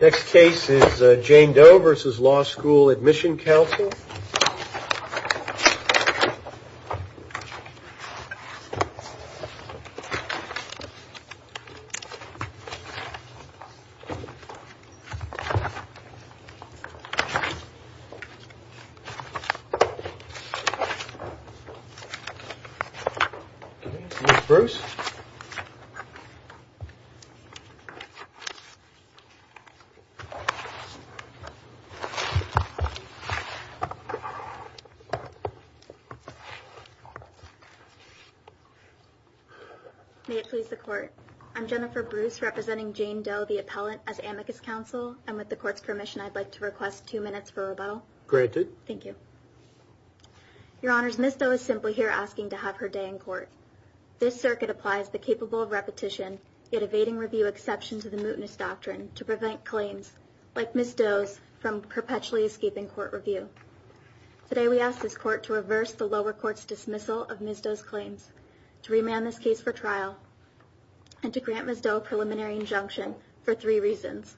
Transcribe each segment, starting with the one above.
Next case is Jane Doe v. Law School Admission Counsel. This is Bruce. May it please the court, I'm Jennifer Bruce representing Jane Doe, the appellant as amicus counsel. And with the court's permission, I'd like to request two minutes for rebuttal. Granted. Thank you. Your honors, Ms. Doe is simply here asking to have her day in court. This circuit applies the capable of repetition, yet evading review exception to the mootness doctrine to prevent claims like Ms. Doe's from perpetually escaping court review. Today we ask this court to reverse the lower court's dismissal of Ms. Doe's claims, to remand this case for trial, and to grant Ms. Doe a preliminary injunction for three reasons.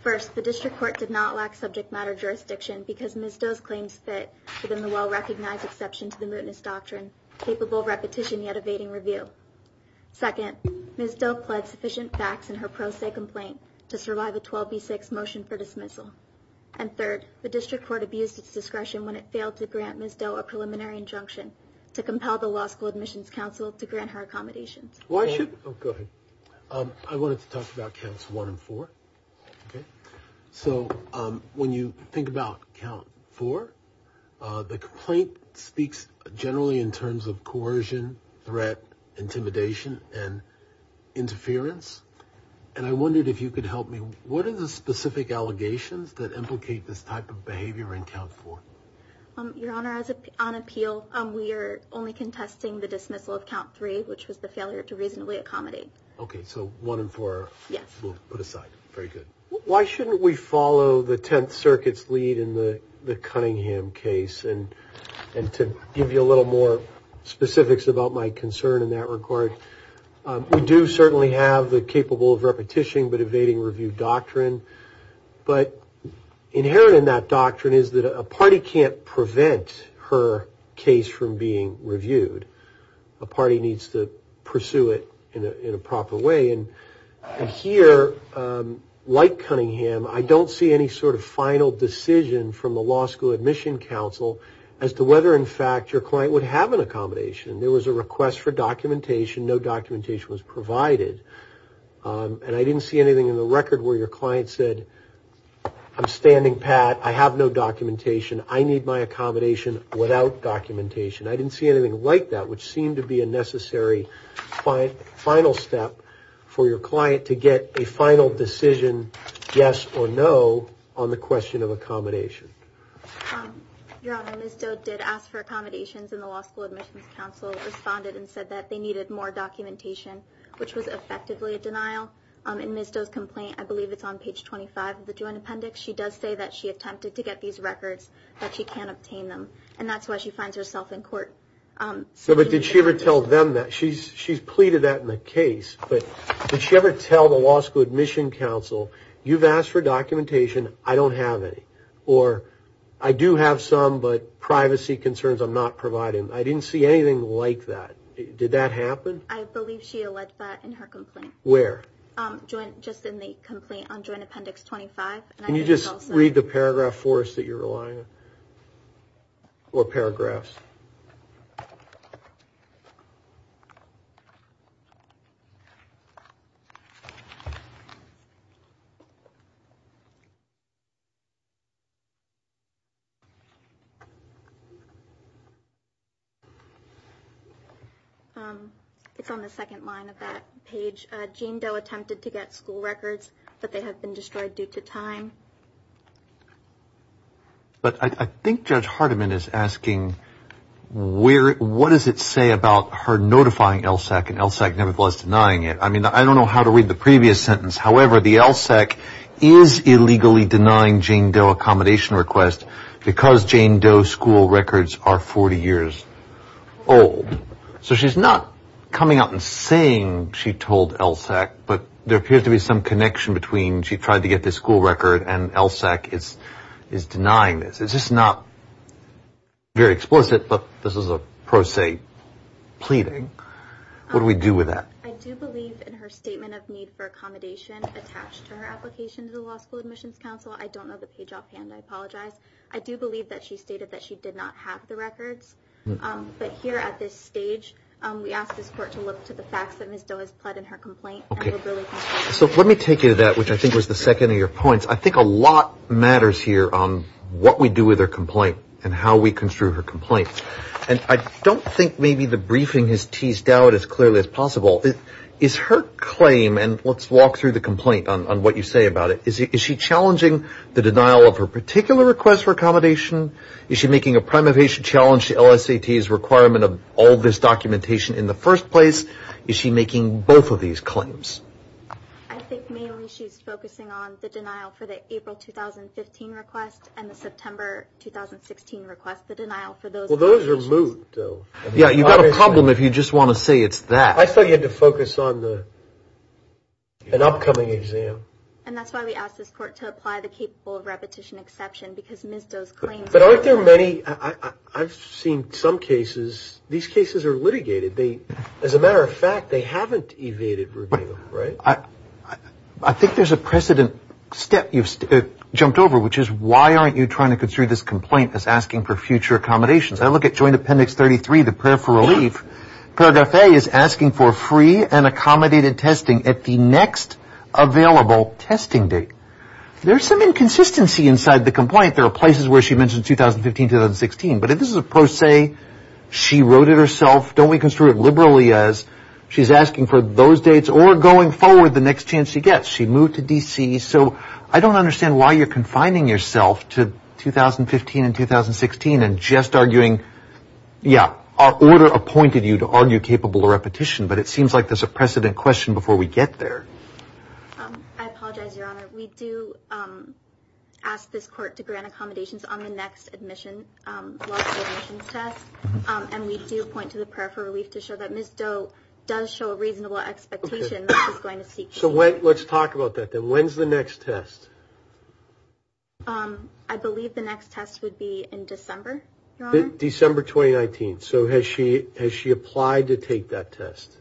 First, the district court did not lack subject matter jurisdiction because Ms. Doe's claims fit within the well-recognized exception to the mootness doctrine, capable of repetition yet evading review. Second, Ms. Doe pled sufficient facts in her pro se complaint to survive a 12B6 motion for dismissal. And third, the district court abused its discretion when it failed to grant Ms. Doe a preliminary injunction to compel the Law School Admissions Counsel to grant her accommodations. Why should... Oh, go ahead. I wanted to talk about counts one and four. Okay. Okay. So when you think about count four, the complaint speaks generally in terms of coercion, threat, intimidation, and interference. And I wondered if you could help me, what are the specific allegations that implicate this type of behavior in count four? Your Honor, on appeal, we are only contesting the dismissal of count three, which was the failure to reasonably accommodate. Okay. So one and four... Very good. Why shouldn't we follow the Tenth Circuit's lead in the Cunningham case? And to give you a little more specifics about my concern in that regard, we do certainly have the capable of repetition but evading review doctrine. But inherent in that doctrine is that a party can't prevent her case from being reviewed. A party needs to pursue it in a proper way. And here, like Cunningham, I don't see any sort of final decision from the Law School Admission Council as to whether, in fact, your client would have an accommodation. There was a request for documentation. No documentation was provided. And I didn't see anything in the record where your client said, I'm standing pat. I have no documentation. I need my accommodation without documentation. I didn't see anything like that, which seemed to be a necessary final step for your client to get a final decision, yes or no, on the question of accommodation. Your Honor, Ms. Doe did ask for accommodations and the Law School Admission Council responded and said that they needed more documentation, which was effectively a denial. In Ms. Doe's complaint, I believe it's on page 25 of the joint appendix, she does say that she attempted to get these records, but she can't obtain them. And that's why she finds herself in court. So did she ever tell them that? She's pleaded that in the case, but did she ever tell the Law School Admission Council, you've asked for documentation, I don't have any, or I do have some, but privacy concerns I'm not providing. I didn't see anything like that. Did that happen? I believe she alleged that in her complaint. Where? Just in the complaint on joint appendix 25. Can you just read the paragraph for us that you're relying on? Or paragraphs? It's on the second line of that page. Jane Doe attempted to get school records, but they have been destroyed due to time. But I think Judge Hardiman is asking, what does it say about her notifying LSAC and LSAC nevertheless denying it? I mean, I don't know how to read the previous sentence, however, the LSAC is illegally denying Jane Doe accommodation requests because Jane Doe's school records are 40 years old. So she's not coming out and saying she told LSAC, but there appears to be some connection between she tried to get this school record and LSAC is denying this. It's just not very explicit, but this is a pro se pleading. What do we do with that? I do believe in her statement of need for accommodation attached to her application to the Law School Admissions Council. I don't know the page offhand, I apologize. I do believe that she stated that she did not have the records. But here at this stage, we ask this court to look to the facts that Ms. Doe has pled in her complaint. Okay. So let me take you to that, which I think was the second of your points. I think a lot matters here on what we do with her complaint and how we construe her complaint. And I don't think maybe the briefing has teased out as clearly as possible. Is her claim, and let's walk through the complaint on what you say about it. Is she challenging the denial of her particular request for accommodation? Is she making a prime evasion challenge to LSAC's requirement of all this documentation in the first place? Is she making both of these claims? I think mainly she's focusing on the denial for the April 2015 request and the September 2016 request. The denial for those... Well, those are moved, though. Yeah, you've got a problem if you just want to say it's that. I thought you had to focus on an upcoming exam. And that's why we ask this court to apply the capable of repetition exception because But aren't there many, I've seen some cases, these cases are litigated. As a matter of fact, they haven't evaded review, right? I think there's a precedent step you've jumped over, which is why aren't you trying to construe this complaint as asking for future accommodations? I look at joint appendix 33, the prayer for relief, paragraph A is asking for free and accommodated testing at the next available testing date. There's some inconsistency inside the complaint. There are places where she mentioned 2015, 2016, but if this is a pro se, she wrote it herself. Don't we construe it liberally as she's asking for those dates or going forward the next chance she gets. She moved to D.C. So I don't understand why you're confining yourself to 2015 and 2016 and just arguing, yeah, our order appointed you to argue capable of repetition, but it seems like there's a precedent question before we get there. I apologize, Your Honor. We do ask this court to grant accommodations on the next admission, and we do point to the prayer for relief to show that Ms. Doe does show a reasonable expectation that she's going to seek. So let's talk about that. Then when's the next test? I believe the next test would be in December, December 2019. So has she has she applied to take that test?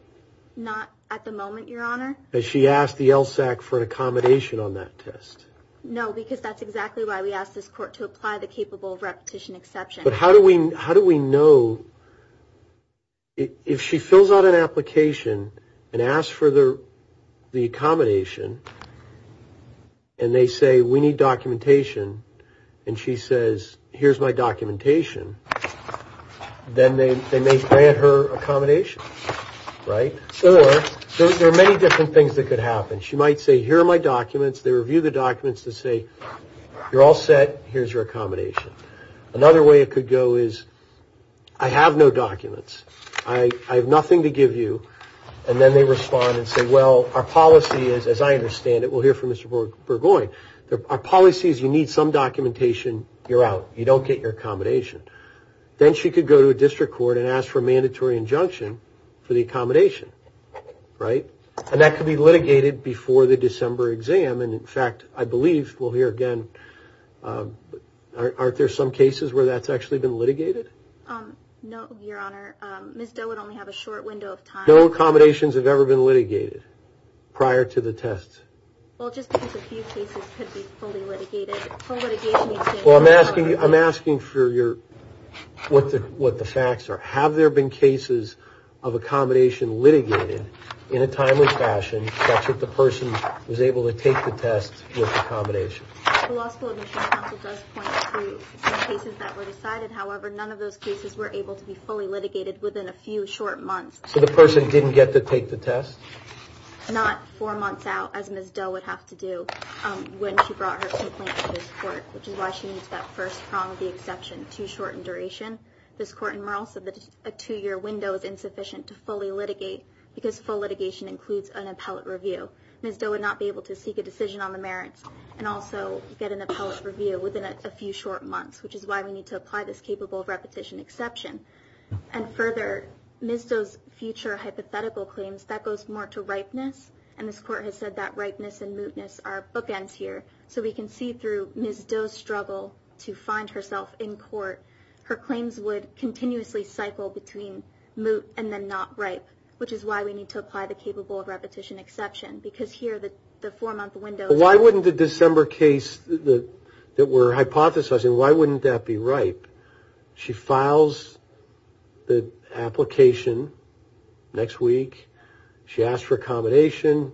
Not at the moment, Your Honor. Has she asked the LSAC for an accommodation on that test? No, because that's exactly why we asked this court to apply the capable of repetition exception. But how do we know if she fills out an application and asks for the accommodation and they say we need documentation and she says, here's my documentation, then they may grant her accommodation. Right? Or there are many different things that could happen. She might say, here are my documents, they review the documents to say, you're all set, here's your accommodation. Another way it could go is, I have no documents, I have nothing to give you, and then they respond and say, well, our policy is, as I understand it, we'll hear from Mr. Burgoyne, our policy is you need some documentation, you're out, you don't get your accommodation. Then she could go to a district court and ask for a mandatory injunction for the accommodation. Right? And that could be litigated before the December exam. And in fact, I believe we'll hear again, aren't there some cases where that's actually been litigated? No, Your Honor. Ms. Doe would only have a short window of time. No accommodations have ever been litigated prior to the test. Well, just because a few cases could be fully litigated. Well, I'm asking, I'm asking for your, what the facts are. Have there been cases of accommodation litigated in a timely fashion such that the person was able to take the test with accommodation? The Law School Admission Council does point to some cases that were decided, however none of those cases were able to be fully litigated within a few short months. So the person didn't get to take the test? Not four months out, as Ms. Doe would have to do when she brought her complaint to this court, which is why she needs that first prong of the exception, too short in duration. This court in Merrill said that a two-year window is insufficient to fully litigate, because full litigation includes an appellate review. Ms. Doe would not be able to seek a decision on the merits and also get an appellate review within a few short months, which is why we need to apply this capable of repetition exception. And further, Ms. Doe's future hypothetical claims, that goes more to ripeness, and this court has said that ripeness and mootness are bookends here. So we can see through Ms. Doe's struggle to find herself in court, her claims would continuously cycle between moot and then not ripe, which is why we need to apply the capable of repetition exception, because here the four-month window... Why wouldn't the December case that we're hypothesizing, why wouldn't that be ripe? She files the application next week. She asks for accommodation.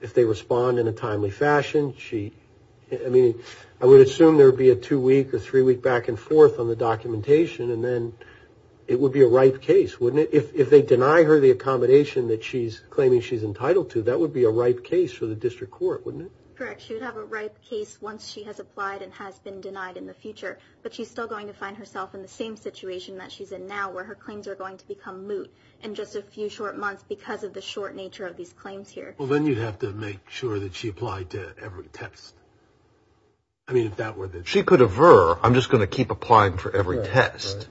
If they respond in a timely fashion, she... I mean, I would assume there would be a two-week or three-week back and forth on the documentation, and then it would be a ripe case, wouldn't it? If they deny her the accommodation that she's claiming she's entitled to, that would be a ripe case for the district court, wouldn't it? Correct. But she's still going to find herself in the same situation that she's in now, where her claims are going to become moot in just a few short months because of the short nature of these claims here. Well, then you'd have to make sure that she applied to every test. I mean, if that were the... She could aver. I'm just going to keep applying for every test.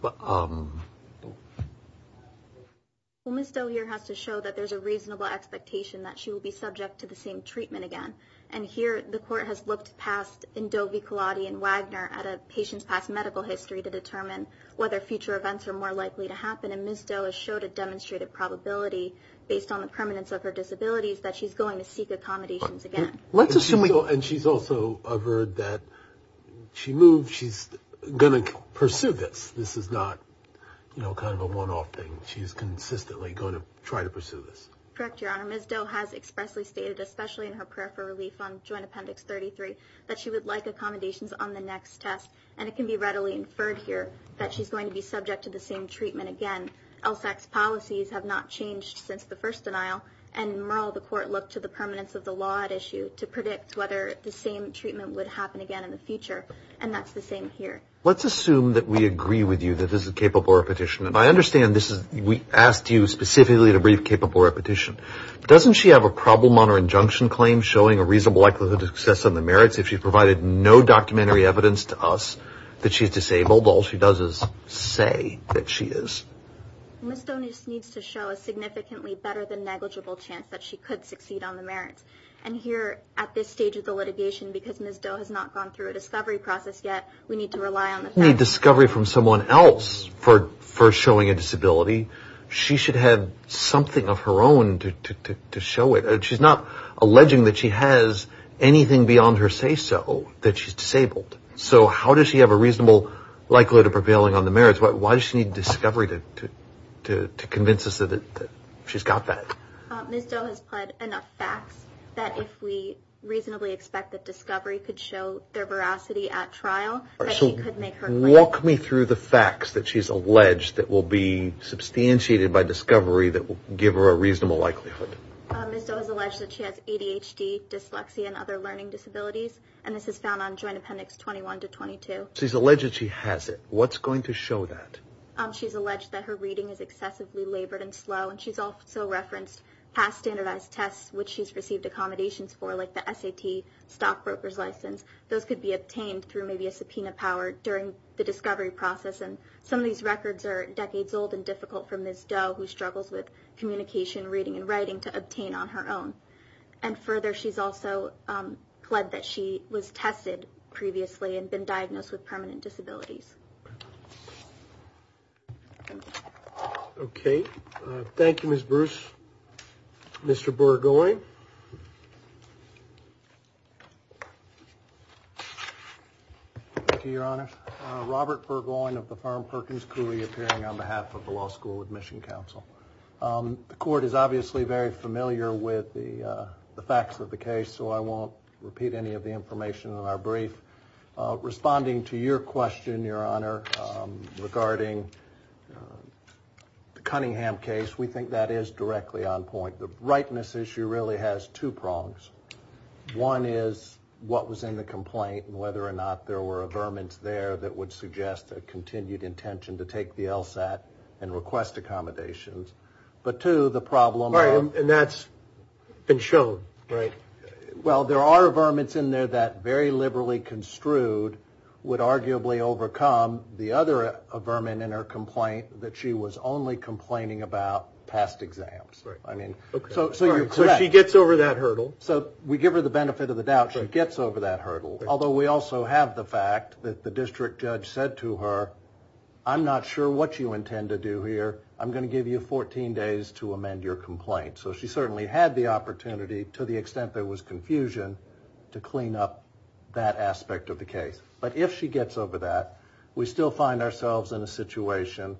Well, Ms. Doe here has to show that there's a reasonable expectation that she will be subject to the same treatment again, and here the court has looked past in Doe v. Weiner at a patient's past medical history to determine whether future events are more likely to happen, and Ms. Doe has showed a demonstrated probability, based on the permanence of her disabilities, that she's going to seek accommodations again. Let's assume we... And she's also averred that she moved. She's going to pursue this. This is not, you know, kind of a one-off thing. She's consistently going to try to pursue this. Correct, Your Honor. Ms. Doe has expressly stated, especially in her prayer for relief on Joint Appendix 33, that she would like accommodations on the next test, and it can be readily inferred here that she's going to be subject to the same treatment again. LSAC's policies have not changed since the first denial, and in Merle the court looked to the permanence of the law at issue to predict whether the same treatment would happen again in the future, and that's the same here. Let's assume that we agree with you that this is a capable repetition, and I understand this is... We asked you specifically to brief capable repetition. Doesn't she have a problem on her injunction claim showing a reasonable likelihood of success on the merits if she provided no documentary evidence to us that she's disabled? All she does is say that she is. Ms. Doe just needs to show a significantly better than negligible chance that she could succeed on the merits. And here at this stage of the litigation, because Ms. Doe has not gone through a discovery process yet, we need to rely on the facts. She doesn't need discovery from someone else for showing a disability. She should have something of her own to show it. She's not alleging that she has anything beyond her say-so that she's disabled. So how does she have a reasonable likelihood of prevailing on the merits? Why does she need discovery to convince us that she's got that? Ms. Doe has pled enough facts that if we reasonably expect that discovery could show their veracity at trial, that she could make her claim. Walk me through the facts that she's alleged that will be substantiated by discovery that will give her a reasonable likelihood. Ms. Doe has alleged that she has ADHD, dyslexia, and other learning disabilities, and this is found on Joint Appendix 21 to 22. She's alleged that she has it. What's going to show that? She's alleged that her reading is excessively labored and slow, and she's also referenced past standardized tests, which she's received accommodations for, like the SAT stockbroker's license. Those could be obtained through maybe a subpoena power during the discovery process, and some of these records are decades old and difficult for Ms. Doe, who struggles with communication, reading, and writing, to obtain on her own. And further, she's also pled that she was tested previously and been diagnosed with permanent disabilities. Okay. Thank you, Ms. Bruce. Mr. Burgoyne. Thank you, Your Honor. Robert Burgoyne of the firm Perkins Cooley, appearing on behalf of the Law School Admission Council. The Court is obviously very familiar with the facts of the case, so I won't repeat any of the information in our brief. Responding to your question, Your Honor, regarding the Cunningham case, we think that is directly on point. The brightness issue really has two prongs. One is what was in the complaint and whether or not there were averments there that would suggest a continued intention to take the LSAT and request accommodations. But two, the problem of... Right, and that's been shown, right? Well, there are averments in there that very liberally construed would arguably overcome the other averment in her complaint, that she was only complaining about past exams. So you're correct. So she gets over that hurdle. So we give her the benefit of the doubt. She gets over that hurdle, although we also have the fact that the district judge said to her, I'm not sure what you intend to do here. I'm going to give you 14 days to amend your complaint. So she certainly had the opportunity, to the extent there was confusion, to clean up that aspect of the case. But if she gets over that, we still find ourselves in a situation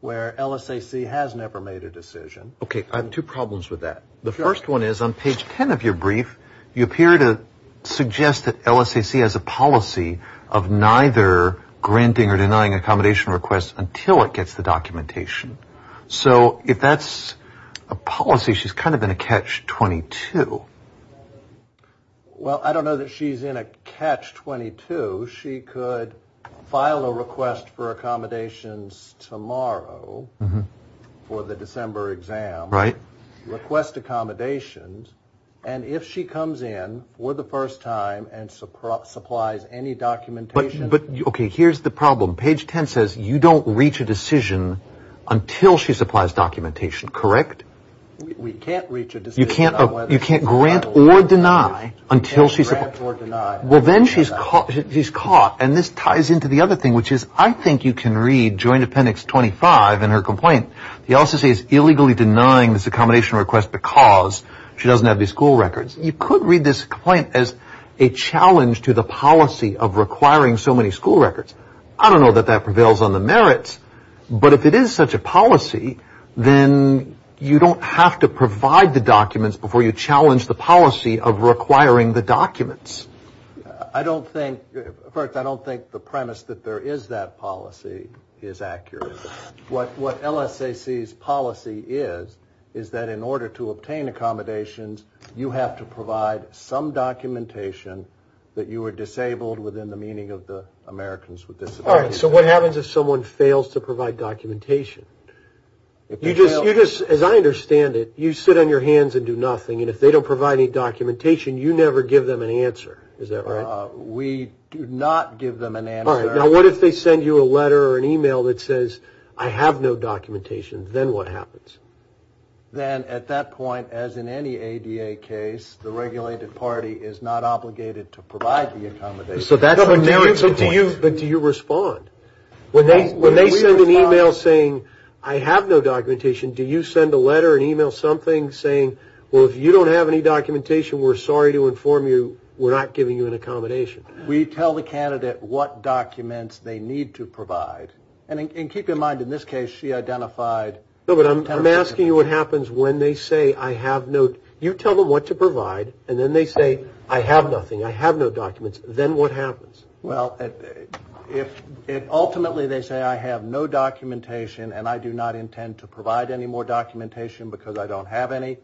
where LSAC has never made a decision. Okay, I have two problems with that. The first one is on page 10 of your brief, you appear to suggest that LSAC has a policy of neither granting or denying accommodation requests until it gets the documentation. So if that's a policy, she's kind of in a catch-22. Well, I don't know that she's in a catch-22. She could file a request for accommodations tomorrow for the December exam. Right. Request accommodations, and if she comes in for the first time and supplies any documentation. But, okay, here's the problem. Page 10 says you don't reach a decision until she supplies documentation. Correct? We can't reach a decision. You can't grant or deny until she's... Can't grant or deny. Well, then she's caught, and this ties into the other thing, which is I think you can read Joint Appendix 25 in her complaint. It also says illegally denying this accommodation request because she doesn't have the school records. You could read this complaint as a challenge to the policy of requiring so many school records. I don't know that that prevails on the merits, but if it is such a policy, then you don't have to provide the documents before you challenge the policy of requiring the documents. I don't think the premise that there is that policy is accurate. What LSAC's policy is, is that in order to obtain accommodations, you have to provide some documentation that you are disabled within the meaning of the Americans with Disabilities Act. All right, so what happens if someone fails to provide documentation? You just, as I understand it, you sit on your hands and do nothing, and if they don't provide any documentation, you never give them an answer. Is that right? We do not give them an answer. All right, now what if they send you a letter or an e-mail that says, I have no documentation, then what happens? Then at that point, as in any ADA case, the regulated party is not obligated to provide the accommodation. But do you respond? When they send an e-mail saying, I have no documentation, do you send a letter, an e-mail, something saying, well, if you don't have any documentation, we're sorry to inform you, we're not giving you an accommodation? We tell the candidate what documents they need to provide. And keep in mind, in this case, she identified 10 or 15. No, but I'm asking you what happens when they say, I have no, you tell them what to provide, and then they say, I have nothing, I have no documents, then what happens? Well, ultimately they say, I have no documentation, and I do not intend to provide any more documentation because I don't have any.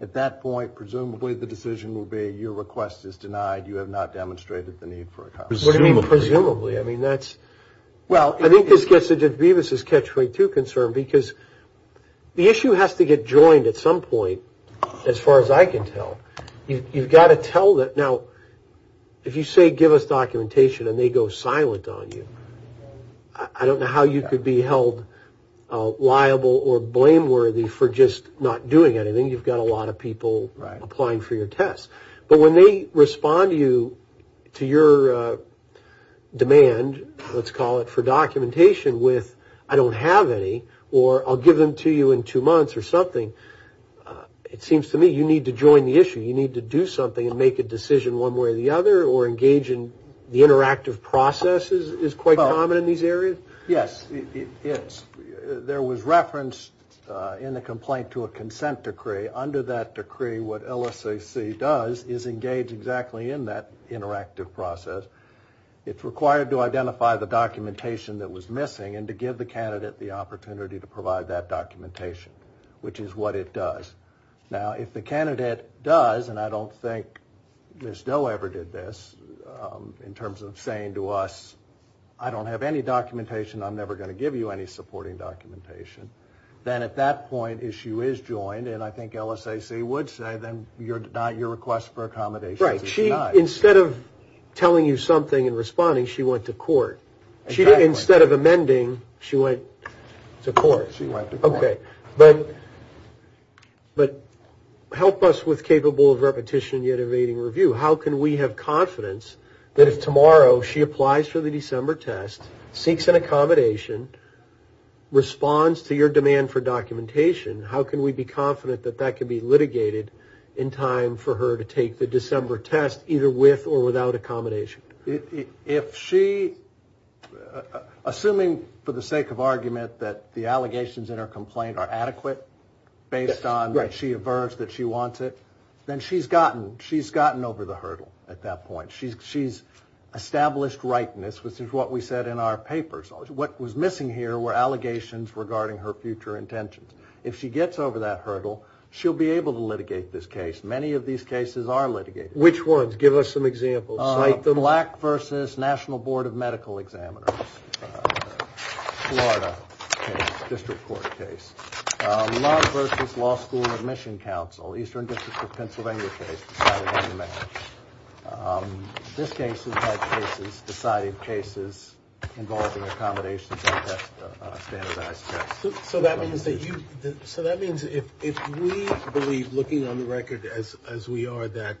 At that point, presumably, the decision will be, your request is denied, you have not demonstrated the need for accommodation. What do you mean presumably? I mean, that's, well, I think this gets to Judge Bevis' catch-22 concern, because the issue has to get joined at some point, as far as I can tell. You've got to tell that. Now, if you say, give us documentation, and they go silent on you, I don't know how you could be held liable or blameworthy for just not doing anything. You've got a lot of people applying for your test. But when they respond to your demand, let's call it, for documentation with, I don't have any, or I'll give them to you in two months or something, it seems to me you need to join the issue. You need to do something and make a decision one way or the other, or engage in the interactive processes is quite common in these areas. Yes, it is. There was reference in the complaint to a consent decree. Under that decree, what LSAC does is engage exactly in that interactive process. It's required to identify the documentation that was missing and to give the candidate the opportunity to provide that documentation, which is what it does. Now, if the candidate does, and I don't think Ms. Doe ever did this, in terms of saying to us, I don't have any documentation, I'm never going to give you any supporting documentation, then at that point issue is joined, and I think LSAC would say, then your request for accommodation is denied. Right. Instead of telling you something and responding, she went to court. Exactly. Instead of amending, she went to court. Okay. But help us with capable of repetition yet evading review. How can we have confidence that if tomorrow she applies for the December test, seeks an accommodation, responds to your demand for documentation, how can we be confident that that can be litigated in time for her to take the December test, either with or without accommodation? Assuming, for the sake of argument, that the allegations in her complaint are adequate, based on that she averts that she wants it, then she's gotten over the hurdle at that point. She's established rightness, which is what we said in our papers. What was missing here were allegations regarding her future intentions. If she gets over that hurdle, she'll be able to litigate this case. Many of these cases are litigated. Which ones? Give us some examples. The Black v. National Board of Medical Examiners, Florida case, district court case. Love v. Law School Admission Council, Eastern District of Pennsylvania case, deciding on the marriage. This case is like cases, deciding cases involving accommodations and standardized tests. So that means if we believe, looking on the record as we are, that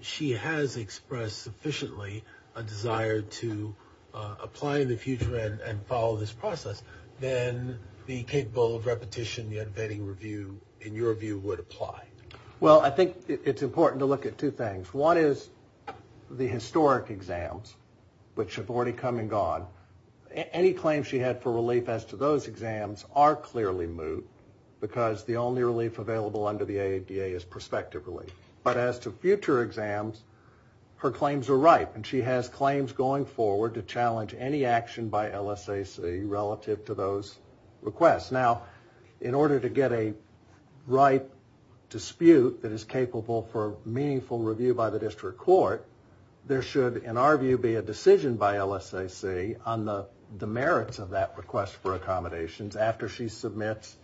she has expressed sufficiently a desire to apply in the future and follow this process, then the capable of repetition, the unabating review, in your view, would apply. Well, I think it's important to look at two things. One is the historic exams, which have already come and gone. Any claims she had for relief as to those exams are clearly moot, because the only relief available under the AADA is prospective relief. But as to future exams, her claims are ripe, and she has claims going forward to challenge any action by LSAC relative to those requests. Now, in order to get a ripe dispute that is capable for meaningful review by the district court, there should, in our view, be a decision by LSAC on the merits of that request for accommodations after she submits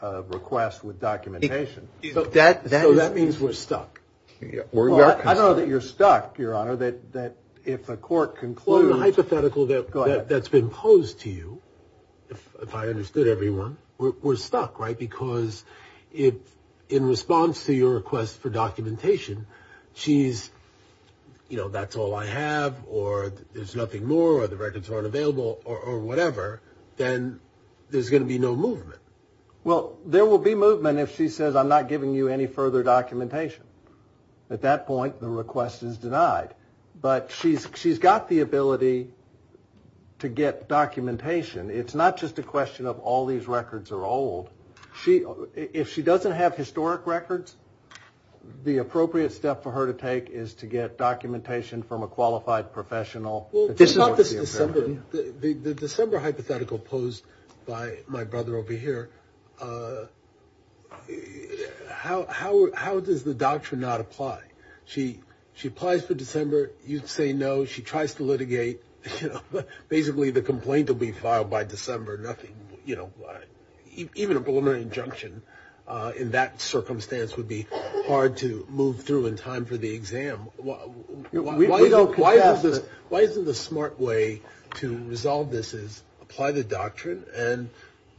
a request with documentation. So that means we're stuck. I don't know that you're stuck, Your Honor, that if a court concludes that's been posed to you, if I understood everyone, we're stuck, right, because in response to your request for documentation, she's, you know, that's all I have, or there's nothing more, or the records aren't available, or whatever, then there's going to be no movement. Well, there will be movement if she says, I'm not giving you any further documentation. At that point, the request is denied. But she's got the ability to get documentation. It's not just a question of all these records are old. If she doesn't have historic records, the appropriate step for her to take is to get documentation from a qualified professional. Well, the December hypothetical posed by my brother over here, how does the doctrine not apply? She applies for December. You say no. She tries to litigate. Basically, the complaint will be filed by December. Even a preliminary injunction in that circumstance would be hard to move through in time for the exam. We don't contest it. Why isn't the smart way to resolve this is apply the doctrine and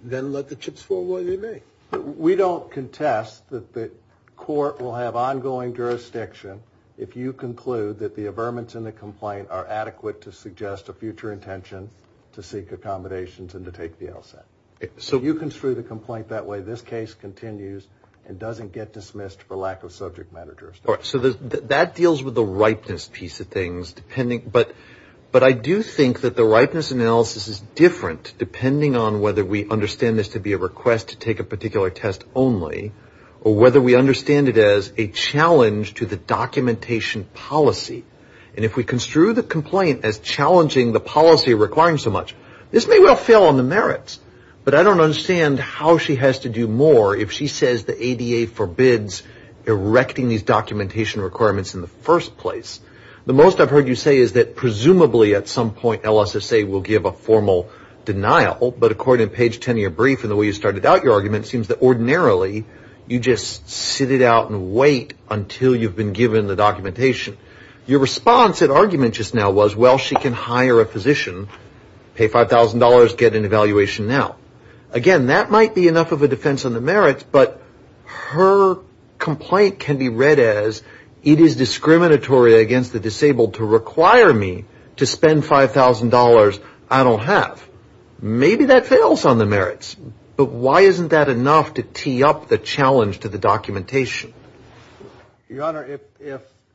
then let the chips fall while they may? We don't contest that the court will have ongoing jurisdiction if you conclude that the averments in the complaint are adequate to suggest a future intention to seek accommodations and to take the LSAT. If you construe the complaint that way, this case continues and doesn't get dismissed for lack of subject matter jurisdiction. That deals with the ripeness piece of things. But I do think that the ripeness analysis is different depending on whether we understand this to be a request to take a particular test only or whether we understand it as a challenge to the documentation policy. If we construe the complaint as challenging the policy requiring so much, this may well fail on the merits. But I don't understand how she has to do more if she says the ADA forbids erecting these documentation requirements in the first place. The most I've heard you say is that presumably at some point LSSA will give a formal denial, but according to page 10 of your brief and the way you started out your argument, it seems that ordinarily you just sit it out and wait until you've been given the documentation. Your response at argument just now was, well, she can hire a physician, pay $5,000, get an evaluation now. Again, that might be enough of a defense on the merits, but her complaint can be read as it is discriminatory against the disabled to require me to spend $5,000 I don't have. Maybe that fails on the merits, but why isn't that enough to tee up the challenge to the documentation? Your Honor,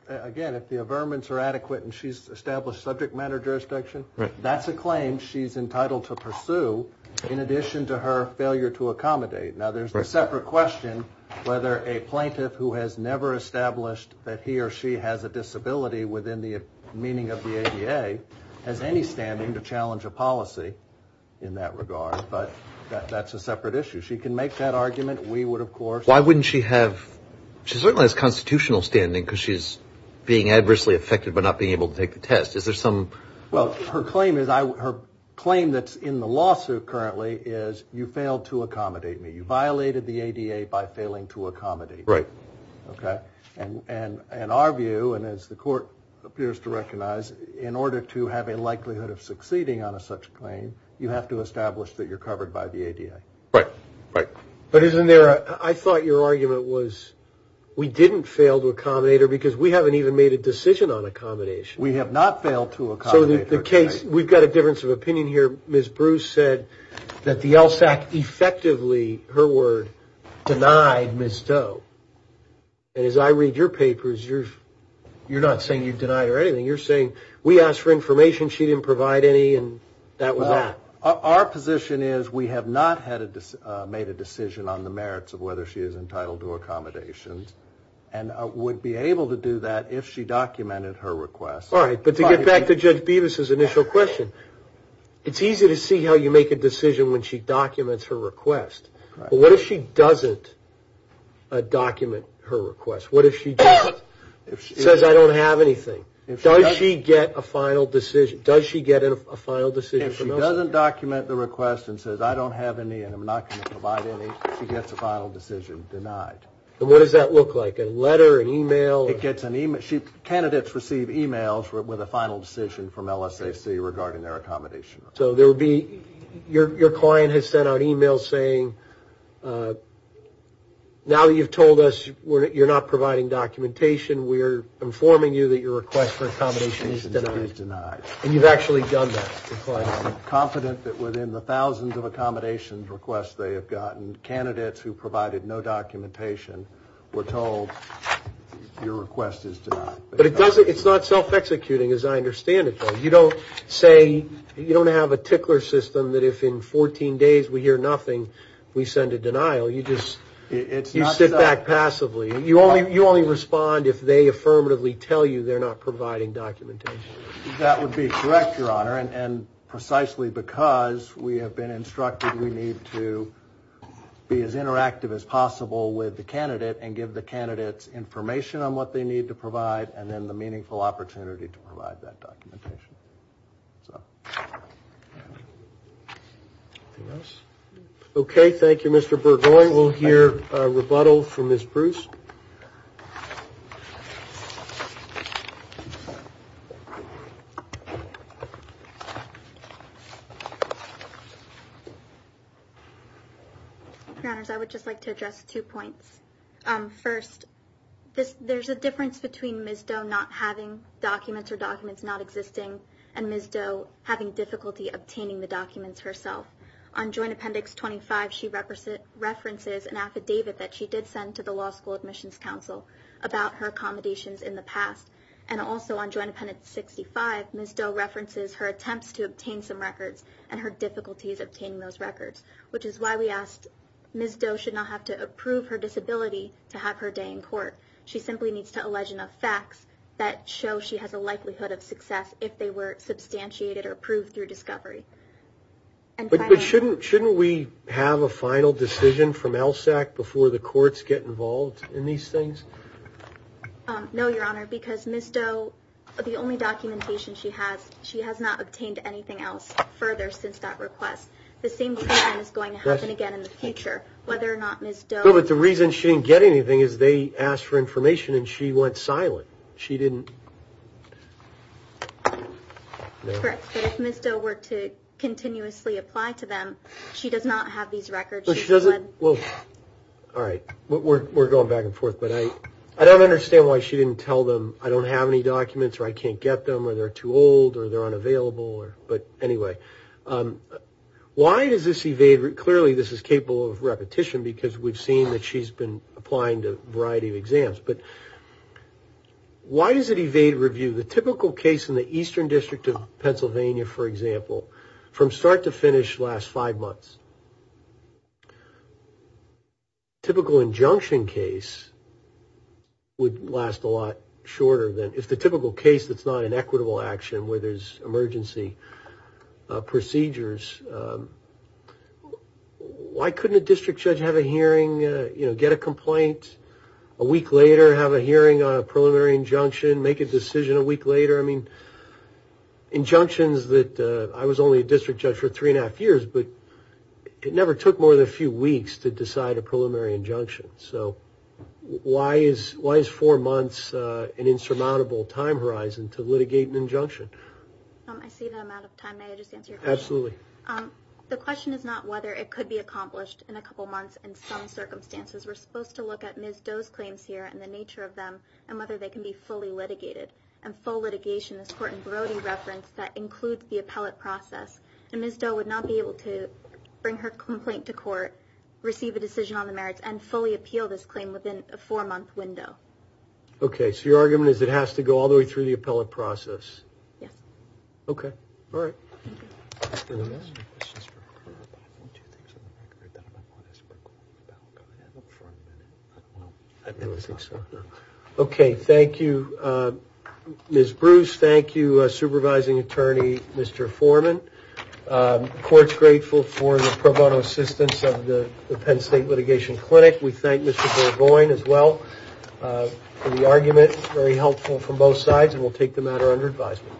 again, if the averments are adequate and she's established subject matter jurisdiction, that's a claim she's entitled to pursue in addition to her failure to accommodate. Now, there's a separate question whether a plaintiff who has never established that he or she has a disability within the meaning of the ADA has any standing to challenge a policy in that regard, but that's a separate issue. She can make that argument. We would, of course. Why wouldn't she have – she certainly has constitutional standing because she's being adversely affected by not being able to take the test. Is there some – Well, her claim that's in the lawsuit currently is you failed to accommodate me. You violated the ADA by failing to accommodate me. Right. Okay? And our view, and as the court appears to recognize, in order to have a likelihood of succeeding on such a claim, you have to establish that you're covered by the ADA. Right. Right. But isn't there – I thought your argument was we didn't fail to accommodate her because we haven't even made a decision on accommodation. We have not failed to accommodate her. So the case – we've got a difference of opinion here. Ms. Bruce said that the LSAC effectively, her word, denied Ms. Doe. And as I read your papers, you're not saying you've denied her anything. You're saying we asked for information, she didn't provide any, and that was that. Well, our position is we have not made a decision on the merits of whether she is entitled to accommodations and would be able to do that if she documented her request. All right, but to get back to Judge Bevis' initial question, it's easy to see how you make a decision when she documents her request. But what if she doesn't document her request? What if she doesn't – says I don't have anything? Does she get a final decision? Does she get a final decision from LSAC? If she doesn't document the request and says I don't have any and I'm not going to provide any, she gets a final decision denied. And what does that look like, a letter, an email? It gets an email – candidates receive emails with a final decision from LSAC regarding their accommodation. So there would be – your client has sent out emails saying, now that you've told us you're not providing documentation, we're informing you that your request for accommodation is denied. And you've actually done that? I'm confident that within the thousands of accommodations requests they have gotten, candidates who provided no documentation were told your request is denied. But it doesn't – it's not self-executing as I understand it, though. You don't say – you don't have a tickler system that if in 14 days we hear nothing, we send a denial. You just – you sit back passively. You only respond if they affirmatively tell you they're not providing documentation. That would be correct, Your Honor, and precisely because we have been instructed we need to be as interactive as possible with the candidate and give the candidates information on what they need to provide and then the meaningful opportunity to provide that documentation. Anything else? Okay, thank you, Mr. Burgoyne. We'll hear a rebuttal from Ms. Bruce. Your Honors, I would just like to address two points. First, there's a difference between Ms. Doe not having documents or documents not existing and Ms. Doe having difficulty obtaining the documents herself. On Joint Appendix 25, she references an affidavit that she did send to the Law School Admissions Council about her accommodations in the past. And also on Joint Appendix 65, Ms. Doe references her attempts to obtain some records and her difficulties obtaining those records, which is why we asked Ms. Doe should not have to approve her disability to have her day in court. She simply needs to allege enough facts that show she has a likelihood of success if they were substantiated or approved through discovery. But shouldn't we have a final decision from LSAC before the courts get involved in these things? No, Your Honor, because Ms. Doe, the only documentation she has, she has not obtained anything else further since that request. The same thing is going to happen again in the future, whether or not Ms. Doe... No, but the reason she didn't get anything is they asked for information and she went silent. She didn't... Correct, but if Ms. Doe were to continuously apply to them, she does not have these records. She doesn't? Well, all right, we're going back and forth, but I don't understand why she didn't tell them, I don't have any documents or I can't get them or they're too old or they're unavailable. But anyway, why does this evade... Clearly, this is capable of repetition because we've seen that she's been applying to a variety of exams. But why does it evade review? The typical case in the Eastern District of Pennsylvania, for example, from start to finish lasts five months. Typical injunction case would last a lot shorter than... If the typical case that's not an equitable action where there's emergency procedures, why couldn't a district judge have a hearing, get a complaint a week later, have a hearing on a preliminary injunction, make a decision a week later? Injunctions that... I was only a district judge for three and a half years, but it never took more than a few weeks to decide a preliminary injunction. So why is four months an insurmountable time horizon to litigate an injunction? I see that I'm out of time. May I just answer your question? Absolutely. The question is not whether it could be accomplished in a couple months in some circumstances. We're supposed to look at Ms. Doe's claims here and the nature of them and whether they can be fully litigated. And full litigation, this Court in Brody referenced, that includes the appellate process. And fully appeal this claim within a four-month window. Okay. So your argument is it has to go all the way through the appellate process? Yes. Okay. All right. Okay. Thank you, Ms. Bruce. Thank you, Supervising Attorney Mr. Foreman. The Court's grateful for the pro bono assistance of the Penn State Litigation Clinic. We thank Mr. Burgoyne as well for the argument. Very helpful from both sides, and we'll take the matter under advisement.